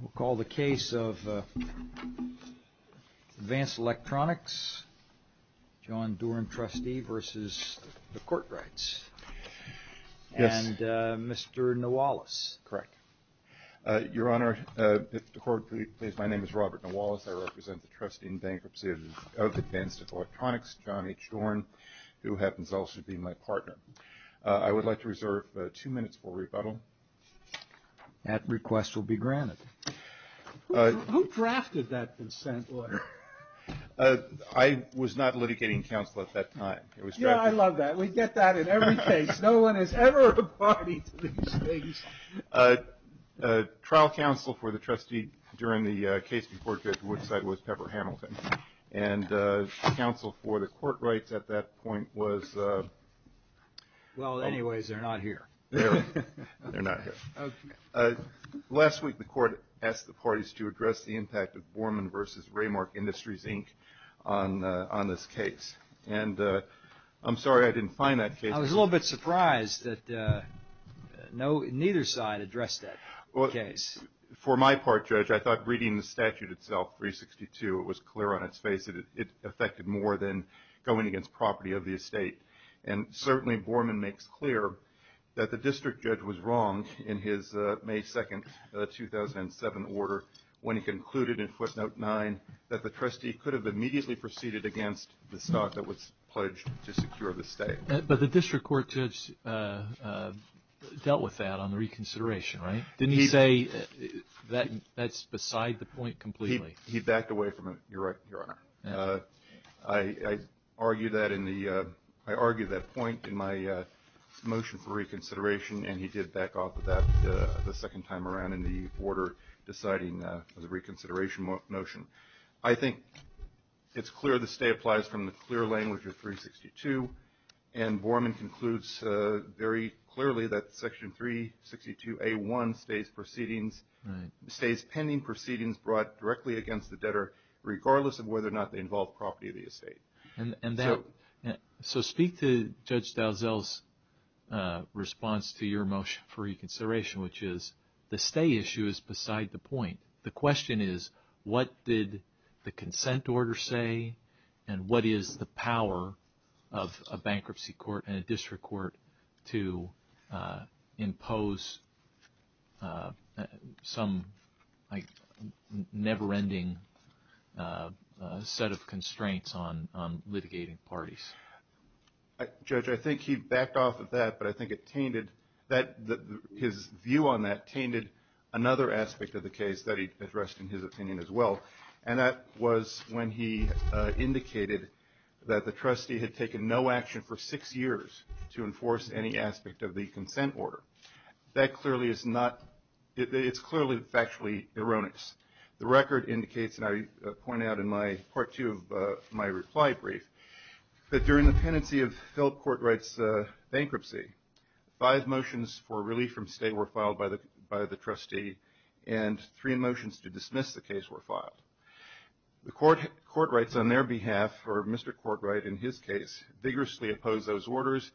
We'll call the case of Advanced Electronics, John Doran, trustee, versus the Courtrights. Yes. And Mr. Nawalus. Correct. Your Honor, if the Court please, my name is Robert Nawalus. I represent the trustee in bankruptcy of Advanced Electronics, John H. Doran, who happens also to be my partner. I would like to reserve two minutes for rebuttal. That request will be granted. Who drafted that consent letter? I was not litigating counsel at that time. Yeah, I love that. We get that in every case. No one has ever applied these things. Trial counsel for the trustee during the case before Judge Woodside was Pepper Hamilton. And counsel for the Courtrights at that point was... Well, anyways, they're not here. They're not here. Last week, the Court asked the parties to address the impact of Borman v. Raymark Industries, Inc. on this case. And I'm sorry I didn't find that case. I was a little bit surprised that neither side addressed that case. For my part, Judge, I thought reading the statute itself, 362, it was clear on its face that it affected more than going against property of the estate. And certainly Borman makes clear that the district judge was wrong in his May 2, 2007, order when he concluded in footnote 9 that the trustee could have immediately proceeded against the stock that was pledged to secure the estate. But the district court judge dealt with that on the reconsideration, right? Didn't he say that's beside the point completely? He backed away from it, Your Honor. I argued that point in my motion for reconsideration, and he did back off of that the second time around in the order deciding the reconsideration motion. I think it's clear the state applies from the clear language of 362, and Borman concludes very clearly that Section 362A1 stays pending proceedings brought directly against the debtor regardless of whether or not they involve property of the estate. So speak to Judge Dalziel's response to your motion for reconsideration, which is the stay issue is beside the point. The question is what did the consent order say, and what is the power of a bankruptcy court and a district court to impose some never-ending set of constraints on litigating parties? Judge, I think he backed off of that, but I think it tainted. His view on that tainted another aspect of the case that he addressed in his opinion as well, and that was when he indicated that the trustee had taken no action for six years to enforce any aspect of the consent order. That clearly is not – it's clearly factually erroneous. The record indicates, and I point out in part two of my reply brief, that during the pendency of Philip Courtright's bankruptcy, five motions for relief from stay were filed by the trustee and three motions to dismiss the case were filed. Courtrights on their behalf, or Mr. Courtright in his case, vigorously opposed those orders,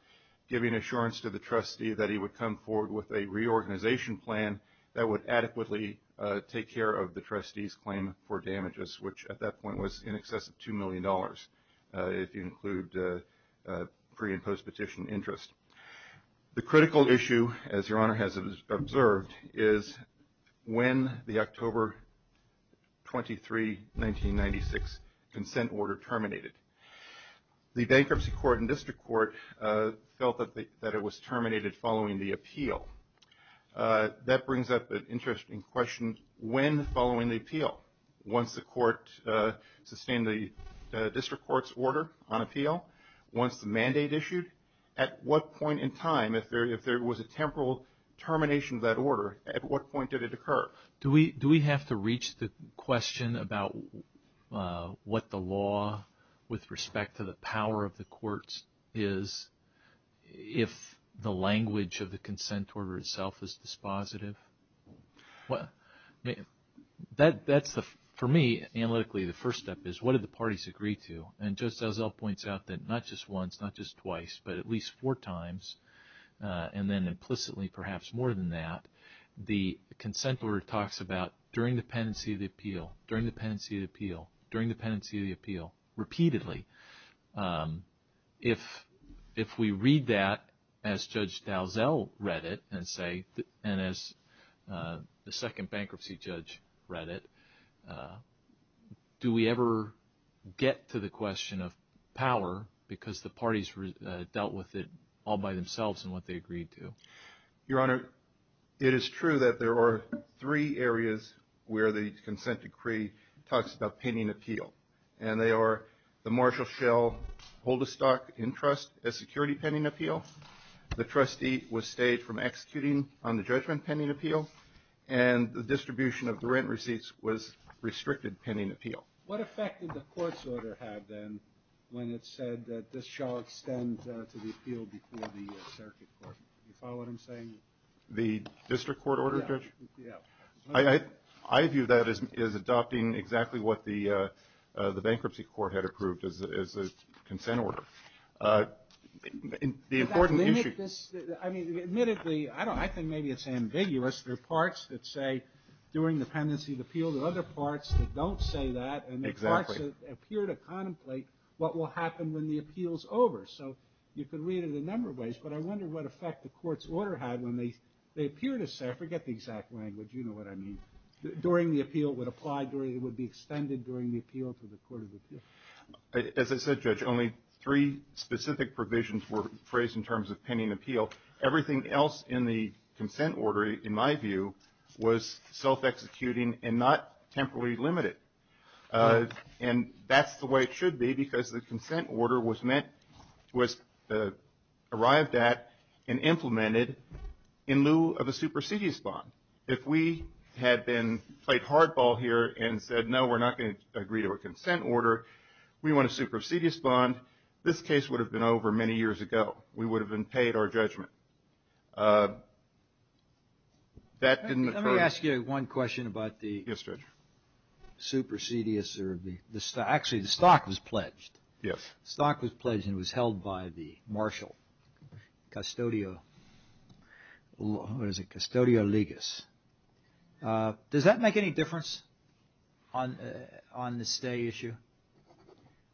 giving assurance to the trustee that he would come forward with a reorganization plan that would adequately take care of the trustee's claim for damages, which at that point was in excess of $2 million, if you include pre- and post-petition interest. The critical issue, as Your Honor has observed, is when the October 23, 1996, consent order terminated. The bankruptcy court and district court felt that it was terminated following the appeal. That brings up an interesting question. When following the appeal? Once the court sustained the district court's order on appeal? Once the mandate issued? At what point in time, if there was a temporal termination of that order, at what point did it occur? Do we have to reach the question about what the law with respect to the power of the courts is if the language of the consent order itself is dispositive? For me, analytically, the first step is, what did the parties agree to? And Judge Dalziel points out that not just once, not just twice, but at least four times, and then implicitly perhaps more than that, the consent order talks about during the pendency of the appeal, during the pendency of the appeal, during the pendency of the appeal, repeatedly. If we read that as Judge Dalziel read it and as the second bankruptcy judge read it, do we ever get to the question of power because the parties dealt with it all by themselves and what they agreed to? Your Honor, it is true that there are three areas where the consent decree talks about pending appeal. And they are the marshal shall hold the stock in trust as security pending appeal, the trustee was stayed from executing on the judgment pending appeal, and the distribution of the rent receipts was restricted pending appeal. What effect did the court's order have then when it said that this shall extend to the appeal before the circuit court? Do you follow what I'm saying? The district court order, Judge? Yeah. I view that as adopting exactly what the bankruptcy court had approved as a consent order. The important issue. I mean, admittedly, I think maybe it's ambiguous. There are parts that say during the pendency of the appeal. There are other parts that don't say that. Exactly. And there are parts that appear to contemplate what will happen when the appeal is over. So you could read it a number of ways, but I wonder what effect the court's order had when they appear to say, I forget the exact language. You know what I mean. During the appeal, it would apply, it would be extended during the appeal to the court of appeal. As I said, Judge, only three specific provisions were phrased in terms of pending appeal. Everything else in the consent order, in my view, was self-executing and not temporarily limited. And that's the way it should be because the consent order was meant, was arrived at and implemented in lieu of a supersedious bond. If we had played hardball here and said, no, we're not going to agree to a consent order, we want a supersedious bond, this case would have been over many years ago. We would have been paid our judgment. That didn't occur. Let me ask you one question about the supersedious. Actually, the stock was pledged. Yes. The stock was pledged and it was held by the marshal, custodio, what is it, custodio legis. Does that make any difference on the stay issue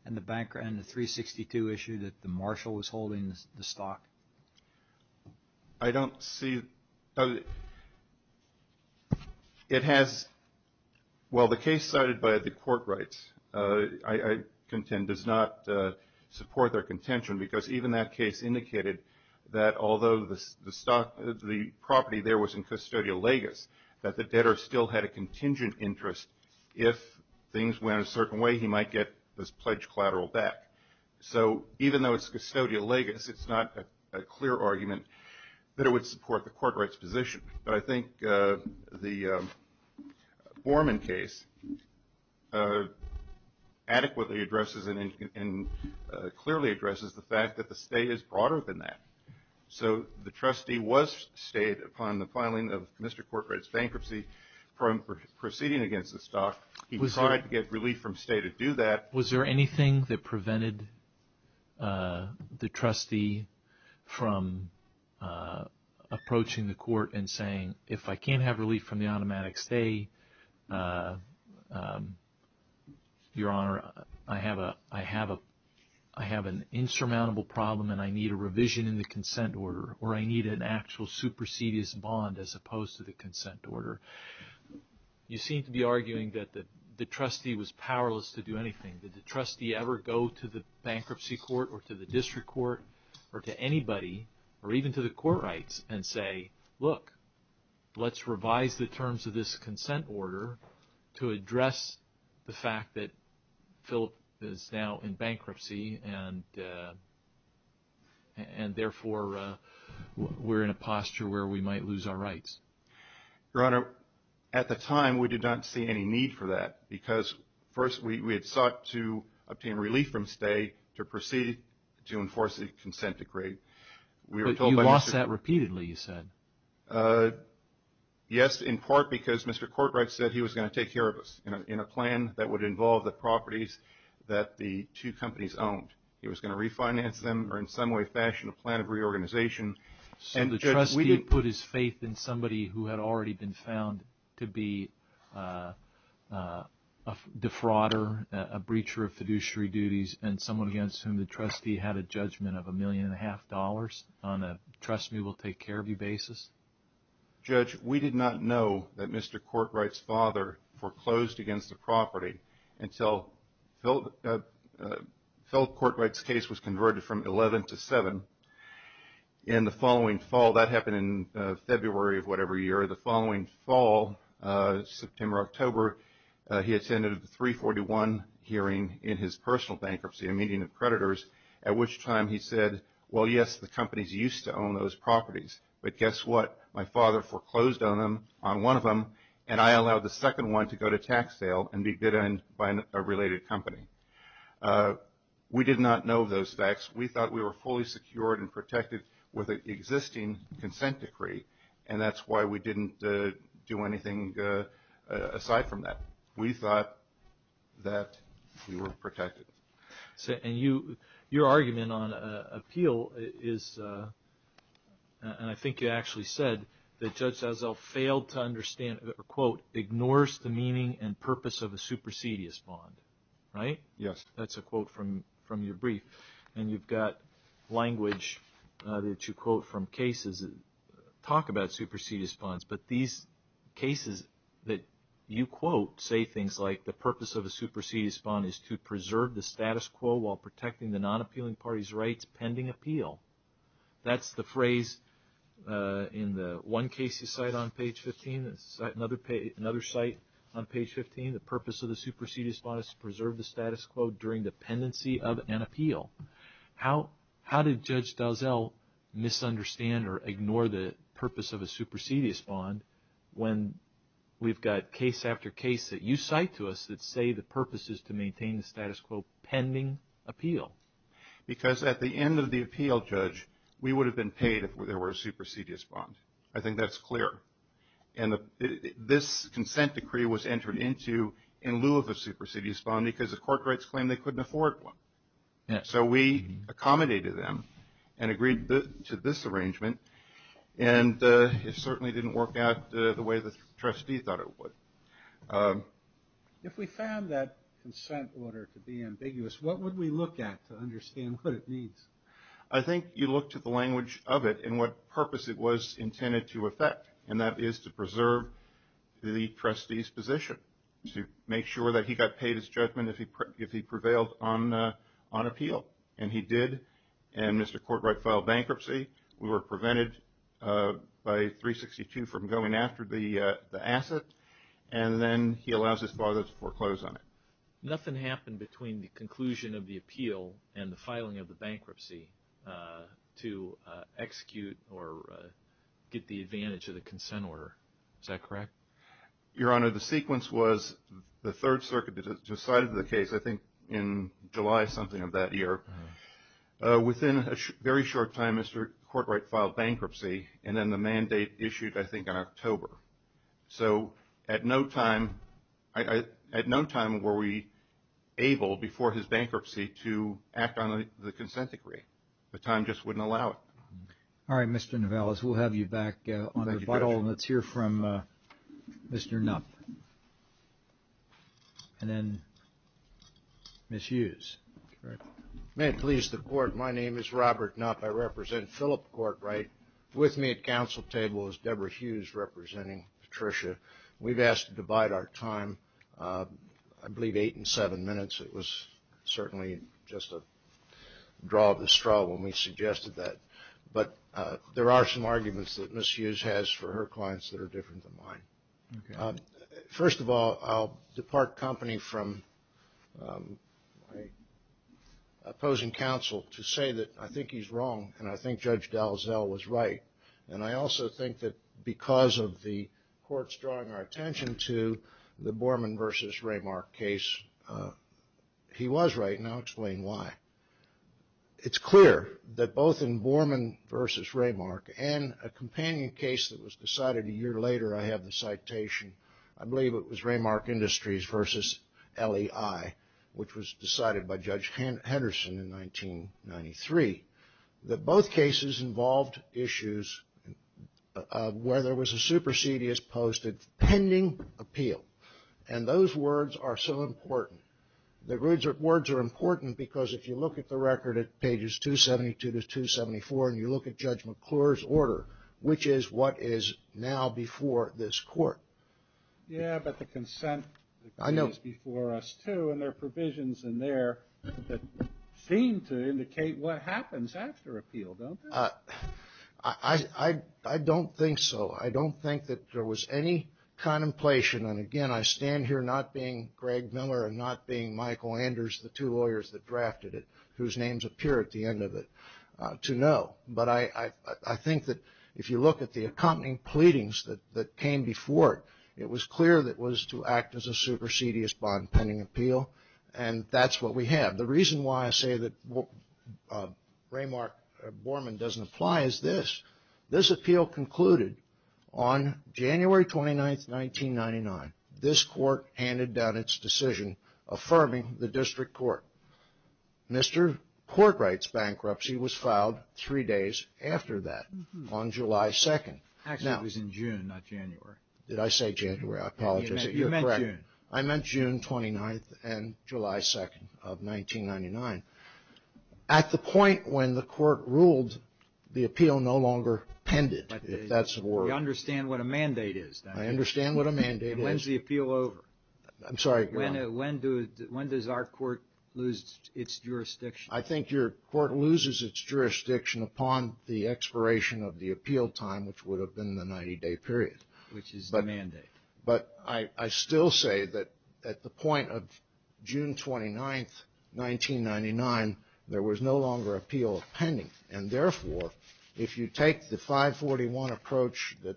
and the 362 issue that the marshal was holding the stock? I don't see. It has, well, the case cited by the court rights, I contend, does not support their contention because even that case indicated that although the property there was in custodio legis, that the debtor still had a contingent interest if things went a certain way, he might get this pledged collateral back. So even though it's custodial legis, it's not a clear argument that it would support the court rights position. But I think the Borman case adequately addresses and clearly addresses the fact that the stay is broader than that. So the trustee was stayed upon the filing of Mr. Corcoran's bankruptcy from proceeding against the stock. He tried to get relief from stay to do that. Was there anything that prevented the trustee from approaching the court and saying, if I can't have relief from the automatic stay, Your Honor, I have an insurmountable problem and I need a revision in the consent order or I need an actual supersedious bond as opposed to the consent order? You seem to be arguing that the trustee was powerless to do anything. Did the trustee ever go to the bankruptcy court or to the district court or to anybody or even to the court rights and say, look, let's revise the terms of this consent order to address the fact that Philip is now in bankruptcy and therefore we're in a posture where we might lose our rights. Your Honor, at the time we did not see any need for that because first we had sought to obtain relief from stay to proceed to enforce the consent decree. But you lost that repeatedly, you said. Yes, in part because Mr. Corcoran said he was going to take care of us in a plan that would involve the properties that the two companies owned. He was going to refinance them or in some way, fashion a plan of reorganization. So the trustee put his faith in somebody who had already been found to be a defrauder, a breacher of fiduciary duties and someone against whom the trustee had a judgment of a million and a half dollars on a trust me, we'll take care of you basis? Judge, we did not know that Mr. Corcoran's father foreclosed against the property until Philip Courtright's case was converted from 11 to 7. In the following fall, that happened in February of whatever year, the following fall, September, October, he attended the 341 hearing in his personal bankruptcy, a meeting of creditors, at which time he said, well, yes, the companies used to own those properties. But guess what, my father foreclosed on them, on one of them, and I allowed the second one to go to tax sale and be bid on by a related company. We did not know those facts. We thought we were fully secured and protected with an existing consent decree, and that's why we didn't do anything aside from that. We thought that we were protected. And your argument on appeal is, and I think you actually said, that Judge Sassel failed to understand, or quote, ignores the meaning and purpose of a supersedious bond, right? Yes. That's a quote from your brief. And you've got language that you quote from cases that talk about supersedious bonds, but these cases that you quote say things like, the purpose of a supersedious bond is to preserve the status quo while protecting the non-appealing party's rights pending appeal. That's the phrase in the one case you cite on page 15, another cite on page 15, the purpose of the supersedious bond is to preserve the status quo during the pendency of an appeal. How did Judge Dowsell misunderstand or ignore the purpose of a supersedious bond when we've got case after case that you cite to us that say the purpose is to maintain the status quo pending appeal? Because at the end of the appeal, Judge, we would have been paid if there were a supersedious bond. I think that's clear. And this consent decree was entered into in lieu of a supersedious bond because the court rights claim they couldn't afford one. So we accommodated them and agreed to this arrangement, and it certainly didn't work out the way the trustee thought it would. If we found that consent order to be ambiguous, what would we look at to understand what it means? I think you look to the language of it and what purpose it was intended to affect, and that is to preserve the trustee's position, to make sure that he got paid his judgment if he prevailed on appeal, and he did. And Mr. Courtright filed bankruptcy. We were prevented by 362 from going after the asset, and then he allows his father to foreclose on it. Nothing happened between the conclusion of the appeal and the filing of the bankruptcy to execute or get the advantage of the consent order. Is that correct? Your Honor, the sequence was the Third Circuit decided the case, I think, in July something of that year. Within a very short time, Mr. Courtright filed bankruptcy, and then the mandate issued, I think, in October. So at no time were we able before his bankruptcy to act on the consent decree. The time just wouldn't allow it. All right, Mr. Nivellas, we'll have you back on rebuttal, and let's hear from Mr. Knupp. And then Ms. Hughes. May it please the Court, my name is Robert Knupp. I represent Philip Courtright. With me at council table is Deborah Hughes representing Patricia. We've asked to divide our time, I believe, eight and seven minutes. It was certainly just a draw of the straw when we suggested that. But there are some arguments that Ms. Hughes has for her clients that are different than mine. First of all, I'll depart company from opposing counsel to say that I think he's wrong, and I think Judge Dalzell was right. And I also think that because of the courts drawing our attention to the Borman v. Raymark case, he was right, and I'll explain why. It's clear that both in Borman v. Raymark and a companion case that was decided a year later, I have the citation, I believe it was Raymark Industries v. LEI, which was decided by Judge Henderson in 1993, that both cases involved issues where there was a supersedious posted pending appeal. And those words are so important. The words are important because if you look at the record at pages 272 to 274, and you look at Judge McClure's order, which is what is now before this court. Yeah, but the consent is before us too, and there are provisions in there that seem to indicate what happens after appeal, don't they? I don't think so. I don't think that there was any contemplation. And again, I stand here not being Greg Miller and not being Michael Anders, the two lawyers that drafted it, whose names appear at the end of it, to know, but I think that if you look at the accompanying pleadings that came before it, it was clear that it was to act as a supersedious bond pending appeal, and that's what we have. The reason why I say that Raymark v. Borman doesn't apply is this. This appeal concluded on January 29, 1999. This court handed down its decision affirming the district court. Mr. Courtwright's bankruptcy was filed three days after that, on July 2nd. Actually, it was in June, not January. Did I say January? I apologize. You meant June. I meant June 29th and July 2nd of 1999. At the point when the court ruled, the appeal no longer pended, if that's the word. You understand what a mandate is, don't you? I understand what a mandate is. And when's the appeal over? I'm sorry, go on. When does our court lose its jurisdiction? I think your court loses its jurisdiction upon the expiration of the appeal time, which would have been the 90-day period. Which is the mandate. But I still say that at the point of June 29, 1999, there was no longer appeal pending, and therefore, if you take the 541 approach, the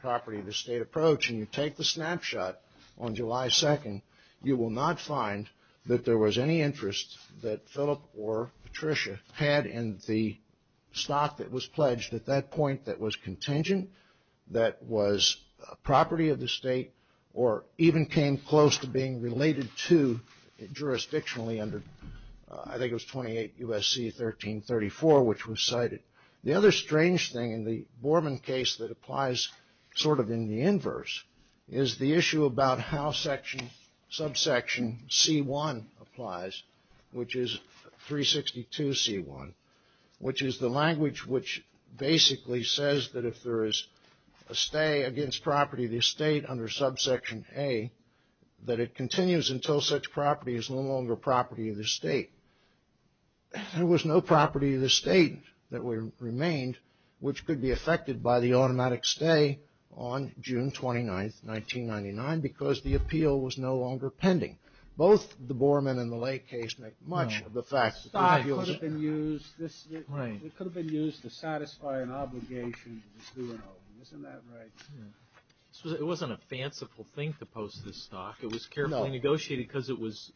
property of the state approach, and you take the snapshot on July 2nd, you will not find that there was any interest that Philip or Patricia had in the stock that was pledged at that point that was contingent, that was property of the state, or even came close to being related to it jurisdictionally under, I think it was 28 U.S.C. 1334, which was cited. The other strange thing in the Borman case that applies sort of in the inverse is the issue about how subsection C1 applies, which is 362 C1, which is the language which basically says that if there is a stay against property of the state under subsection A, that it continues until such property is no longer property of the state. There was no property of the state that remained, which could be affected by the automatic stay on June 29th, 1999, because the appeal was no longer pending. Both the Borman and the Lake case make much of the facts. The stock could have been used to satisfy an obligation. Isn't that right? It wasn't a fanciful thing to post this stock. It was carefully negotiated because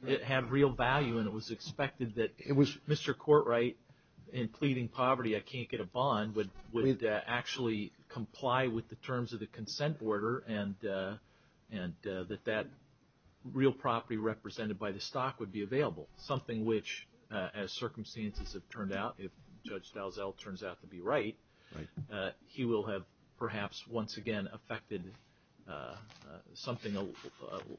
it had real value, and it was expected that Mr. Courtright, in pleading poverty, I can't get a bond, would actually comply with the terms of the consent order and that that real property represented by the stock would be available, something which, as circumstances have turned out, if Judge Dalziel turns out to be right, he will have perhaps once again affected something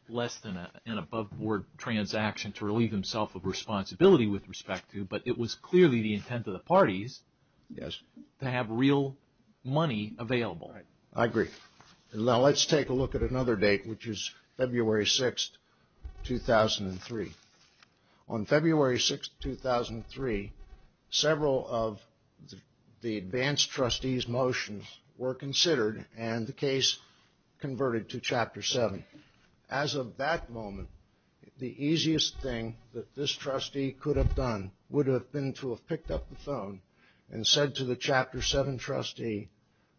less than an above-board transaction to relieve himself of responsibility with respect to, but it was clearly the intent of the parties to have real money available. I agree. Now let's take a look at another date, which is February 6th, 2003. On February 6th, 2003, several of the advanced trustee's motions were considered, and the case converted to Chapter 7. As of that moment, the easiest thing that this trustee could have done would have been to have picked up the phone and said to the Chapter 7 trustee,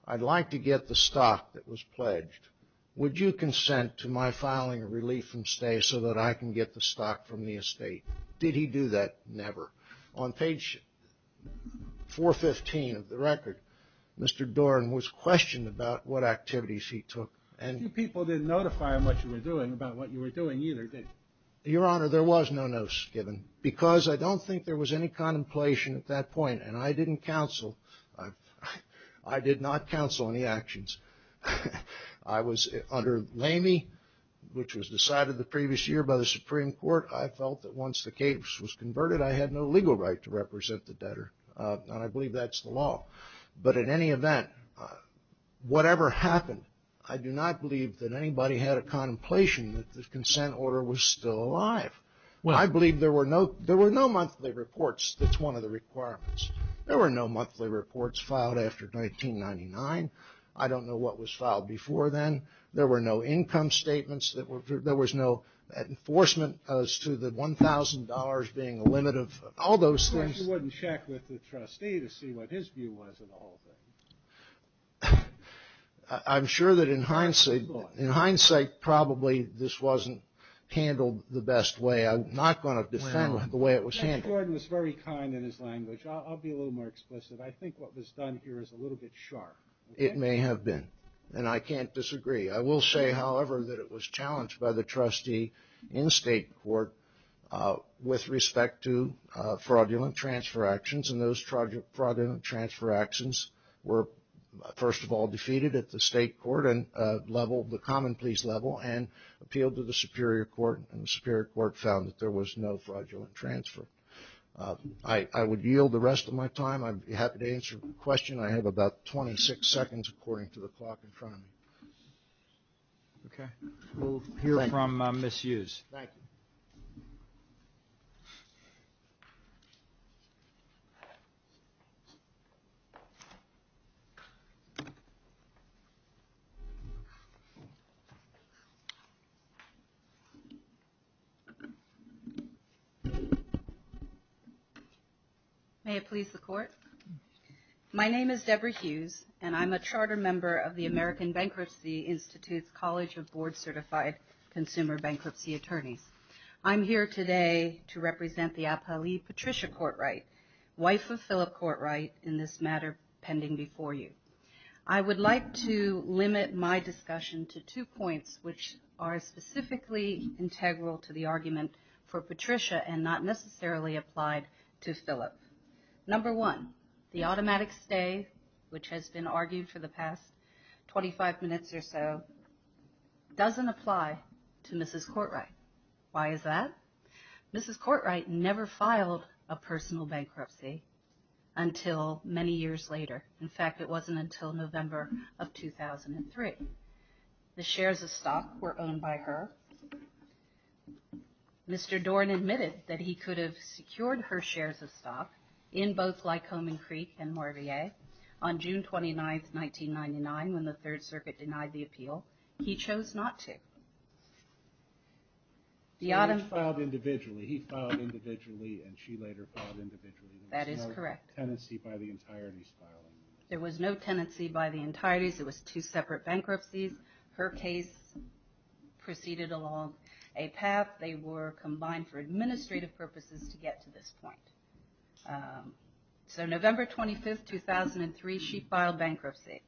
I'd like to get the stock that was pledged. Would you consent to my filing a relief from stay so that I can get the stock from the estate? Did he do that? Never. On page 415 of the record, Mr. Doran was questioned about what activities he took and A few people didn't notify him what you were doing, about what you were doing either, did they? Your Honor, there was no notice given, because I don't think there was any contemplation at that point, and I didn't counsel. I did not counsel any actions. I was under Lamy, which was decided the previous year by the Supreme Court. I felt that once the case was converted, I had no legal right to represent the debtor, and I believe that's the law. But in any event, whatever happened, I do not believe that anybody had a contemplation that the consent order was still alive. I believe there were no monthly reports. That's one of the requirements. There were no monthly reports filed after 1999. I don't know what was filed before then. There were no income statements. There was no enforcement as to the $1,000 being a limit of all those things. You wouldn't check with the trustee to see what his view was of the whole thing. I'm sure that in hindsight, probably this wasn't handled the best way. I'm not going to defend the way it was handled. Judge Gordon was very kind in his language. I'll be a little more explicit. I think what was done here is a little bit sharp. It may have been, and I can't disagree. I will say, however, that it was challenged by the trustee in state court with respect to fraudulent transfer actions, and those fraudulent transfer actions were, first of all, defeated at the state court level, the common pleas level, and appealed to the Superior Court, and the Superior Court found that there was no fraudulent transfer. I would yield the rest of my time. I'd be happy to answer questions. I have about 26 seconds according to the clock in front of me. Okay. We'll hear from Ms. Hughes. Thank you. May it please the Court? My name is Deborah Hughes, and I'm a charter member of the American Bankruptcy Institute's College of Board Certified Consumer Bankruptcy Attorneys. I'm here today to represent the Apali Patricia Courtright, wife of Philip Courtright, in this matter pending before you. I would like to limit my discussion to two points, which are specifically integral to the argument for Patricia and not necessarily applied to Philip. Number one, the automatic stay, which has been argued for the past 25 minutes or so, doesn't apply to Mrs. Courtright. Why is that? Mrs. Courtright never filed a personal bankruptcy until many years later. In fact, it wasn't until November of 2003. The shares of stock were owned by her. Mr. Dorn admitted that he could have secured her shares of stock in both Lycomen Creek and Moravia on June 29, 1999, when the Third Circuit denied the appeal. He chose not to. He filed individually, and she later filed individually. That is correct. There was no tenancy by the entirety's filing. There was no tenancy by the entirety's. It was two separate bankruptcies. Her case proceeded along a path. They were combined for administrative purposes to get to this point. So November 25, 2003, she filed bankruptcy.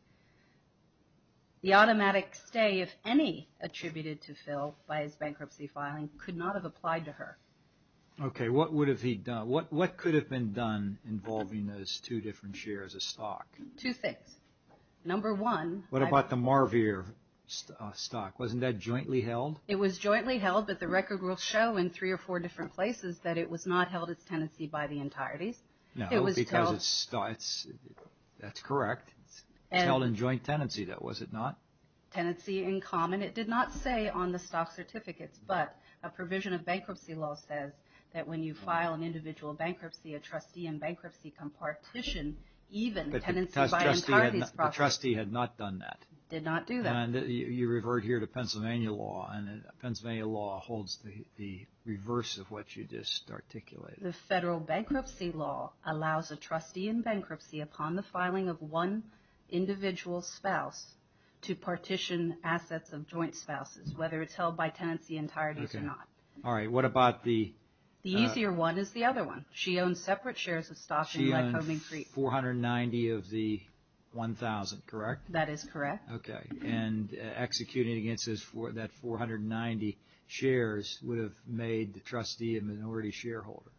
The automatic stay, if any, attributed to Phil by his bankruptcy filing could not have applied to her. Okay. What would have he done? What could have been done involving those two different shares of stock? Two things. Number one. What about the Moravia stock? Wasn't that jointly held? It was jointly held, but the record will show in three or four different places that it was not held as tenancy by the entirety's. No, because it's stock. That's correct. It was held in joint tenancy, though, was it not? Tenancy in common. It did not say on the stock certificates, but a provision of bankruptcy law says that when you file an individual bankruptcy, a trustee in bankruptcy can partition even tenancy by entirety's. The trustee had not done that. Did not do that. You revert here to Pennsylvania law, and Pennsylvania law holds the reverse of what you just articulated. The federal bankruptcy law allows a trustee in bankruptcy upon the filing of one individual spouse to partition assets of joint spouses, whether it's held by tenancy entirety's or not. Okay. All right. What about the? The easier one is the other one. She owns separate shares of stock in Lycoming Creek. She owns 490 of the 1,000, correct? That is correct. Okay. And executing against that 490 shares would have made the trustee a minority shareholder.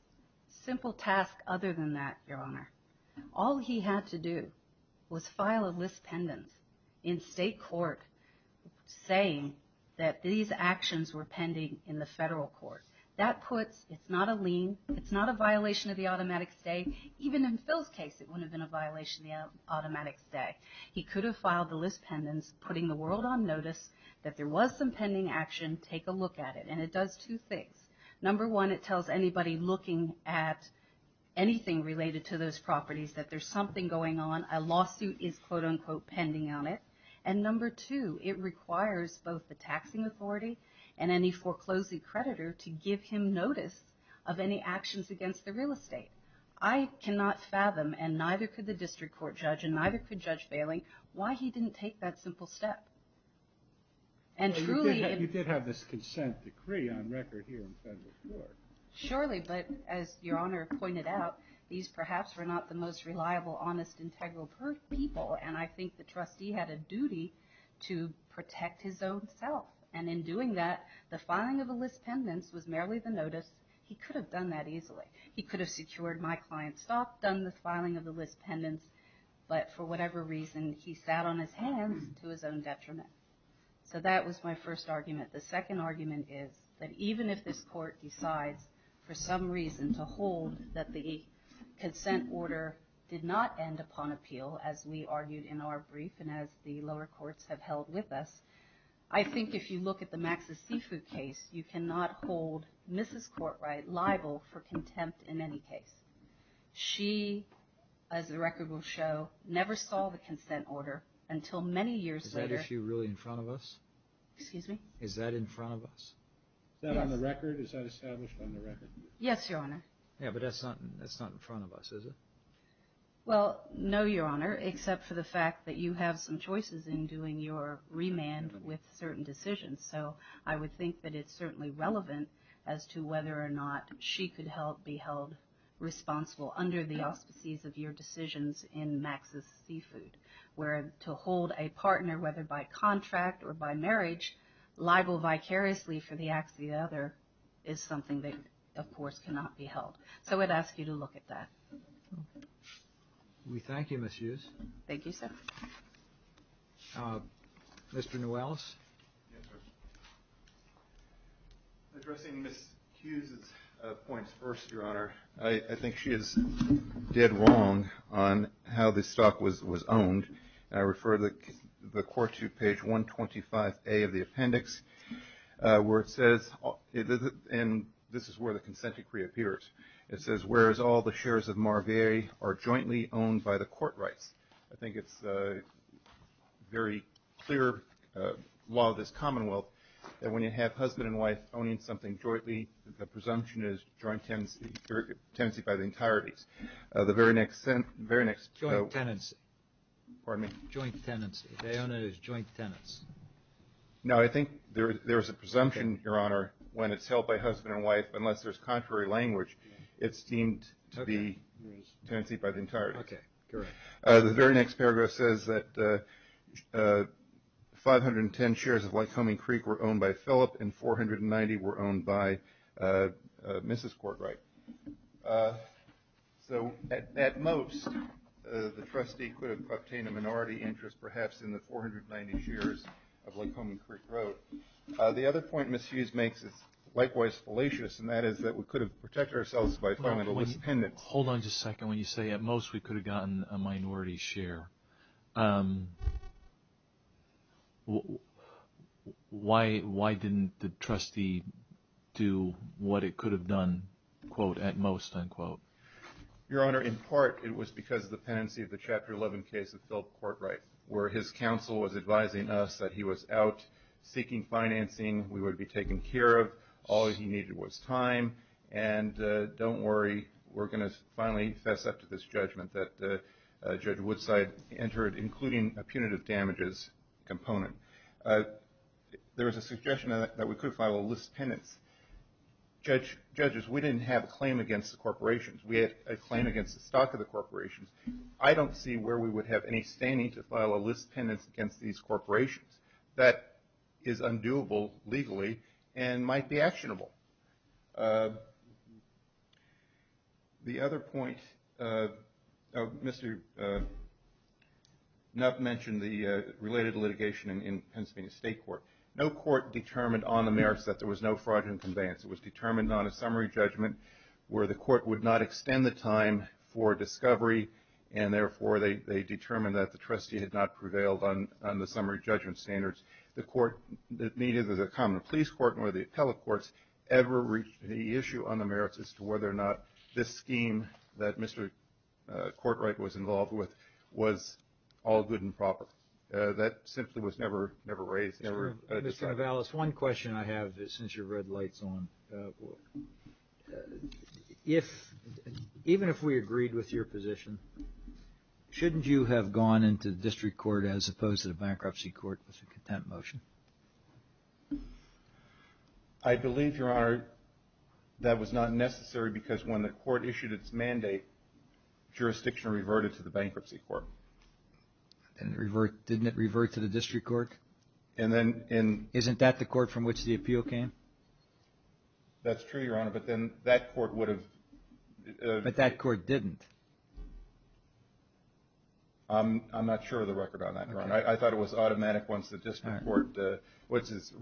Simple task other than that, Your Honor. All he had to do was file a list pendant in state court saying that these actions were pending in the federal court. That puts, it's not a lien, it's not a violation of the automatic stay. Even in Phil's case, it wouldn't have been a violation of the automatic stay. He could have filed the list pendants, putting the world on notice that there was some pending action. Take a look at it. And it does two things. Number one, it tells anybody looking at anything related to those properties that there's something going on. A lawsuit is, quote, unquote, pending on it. And number two, it requires both the taxing authority and any foreclosing creditor to give him notice of any actions against the real estate. I cannot fathom, and neither could the district court judge, and neither could Judge Bailing, why he didn't take that simple step. And truly in- You did have this consent decree on record here in federal court. Surely, but as Your Honor pointed out, these perhaps were not the most reliable, honest, integral people. And I think the trustee had a duty to protect his own self. And in doing that, the filing of the list pendants was merely the notice. He could have done that easily. He could have secured my client's stock, done the filing of the list pendants, but for whatever reason, he sat on his hands to his own detriment. So that was my first argument. The second argument is that even if this court decides for some reason to hold that the consent order did not end upon appeal, as we argued in our brief and as the lower courts have held with us, I think if you look at the Max's Seafood case, you cannot hold Mrs. Courtright liable for contempt in any case. She, as the record will show, never saw the consent order until many years later. Is that issue really in front of us? Excuse me? Is that in front of us? Yes. Is that on the record? Is that established on the record? Yes, Your Honor. Yeah, but that's not in front of us, is it? Well, no, Your Honor, except for the fact that you have some choices in doing your remand with certain decisions. So I would think that it's certainly relevant as to whether or not she could be held responsible under the auspices of your decisions in Max's Seafood, where to hold a partner, whether by contract or by marriage, liable vicariously for the acts of the other, is something that, of course, cannot be held. So I would ask you to look at that. We thank you, Ms. Hughes. Thank you, sir. Mr. Newells? Yes, sir. Addressing Ms. Hughes' points first, Your Honor, I think she is dead wrong on how this stock was owned. I refer the Court to page 125A of the appendix, where it says, and this is where the consent decree appears, it says, whereas all the shares of Marvier are jointly owned by the court rights. I think it's a very clear law of this commonwealth that when you have husband and wife owning something jointly, the presumption is joint tenancy by the entireties. The very next sentence, the very next. Joint tenancy. Pardon me? Joint tenancy. They own it as joint tenants. No, I think there's a presumption, Your Honor, when it's held by husband and wife, unless there's contrary language, it's deemed to be tenancy by the entirety. Okay, correct. The very next paragraph says that 510 shares of Lycoming Creek were owned by Phillip and 490 were owned by Mrs. Courtright. So at most, the trustee could have obtained a minority interest, perhaps in the 490 shares of Lycoming Creek Road. The other point Ms. Hughes makes is likewise fallacious, and that is that we could have protected ourselves by filing a list of pendants. Hold on just a second. When you say at most we could have gotten a minority share, why didn't the trustee do what it could have done, quote, at most, unquote? Your Honor, in part it was because of the pendency of the Chapter 11 case of Phillip Courtright where his counsel was advising us that he was out seeking financing, we would be taken care of, all he needed was time, and don't worry, we're going to finally fess up to this judgment that Judge Woodside entered, including a punitive damages component. There was a suggestion that we could file a list of pendants. Judges, we didn't have a claim against the corporations. We had a claim against the stock of the corporations. I don't see where we would have any standing to file a list of pendants against these corporations. That is undoable legally and might be actionable. The other point, Mr. Nuff mentioned the related litigation in Pennsylvania State Court. No court determined on the merits that there was no fraudulent conveyance. It was determined on a summary judgment where the court would not extend the time for discovery and therefore they determined that the trustee had not prevailed on the summary judgment standards. The court, neither the common police court nor the appellate courts ever reached the issue on the merits as to whether or not this scheme that Mr. Courtright was involved with was all good and proper. That simply was never raised. Mr. Avalos, one question I have since your red light is on. Even if we agreed with your position, shouldn't you have gone into the district court as opposed to the bankruptcy court as a content motion? I believe, Your Honor, that was not necessary because when the court issued its mandate, jurisdiction reverted to the bankruptcy court. Didn't it revert to the district court? Isn't that the court from which the appeal came? That's true, Your Honor, but then that court would have... But that court didn't. I'm not sure of the record on that, Your Honor. I thought it was automatic once the district court, which is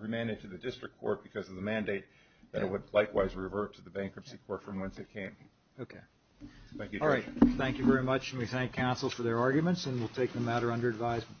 remanded to the district court because of the mandate that it would likewise revert to the bankruptcy court from whence it came. Okay. Thank you, Your Honor. All right, thank you very much and we thank counsel for their arguments and we'll take the matter under advisement.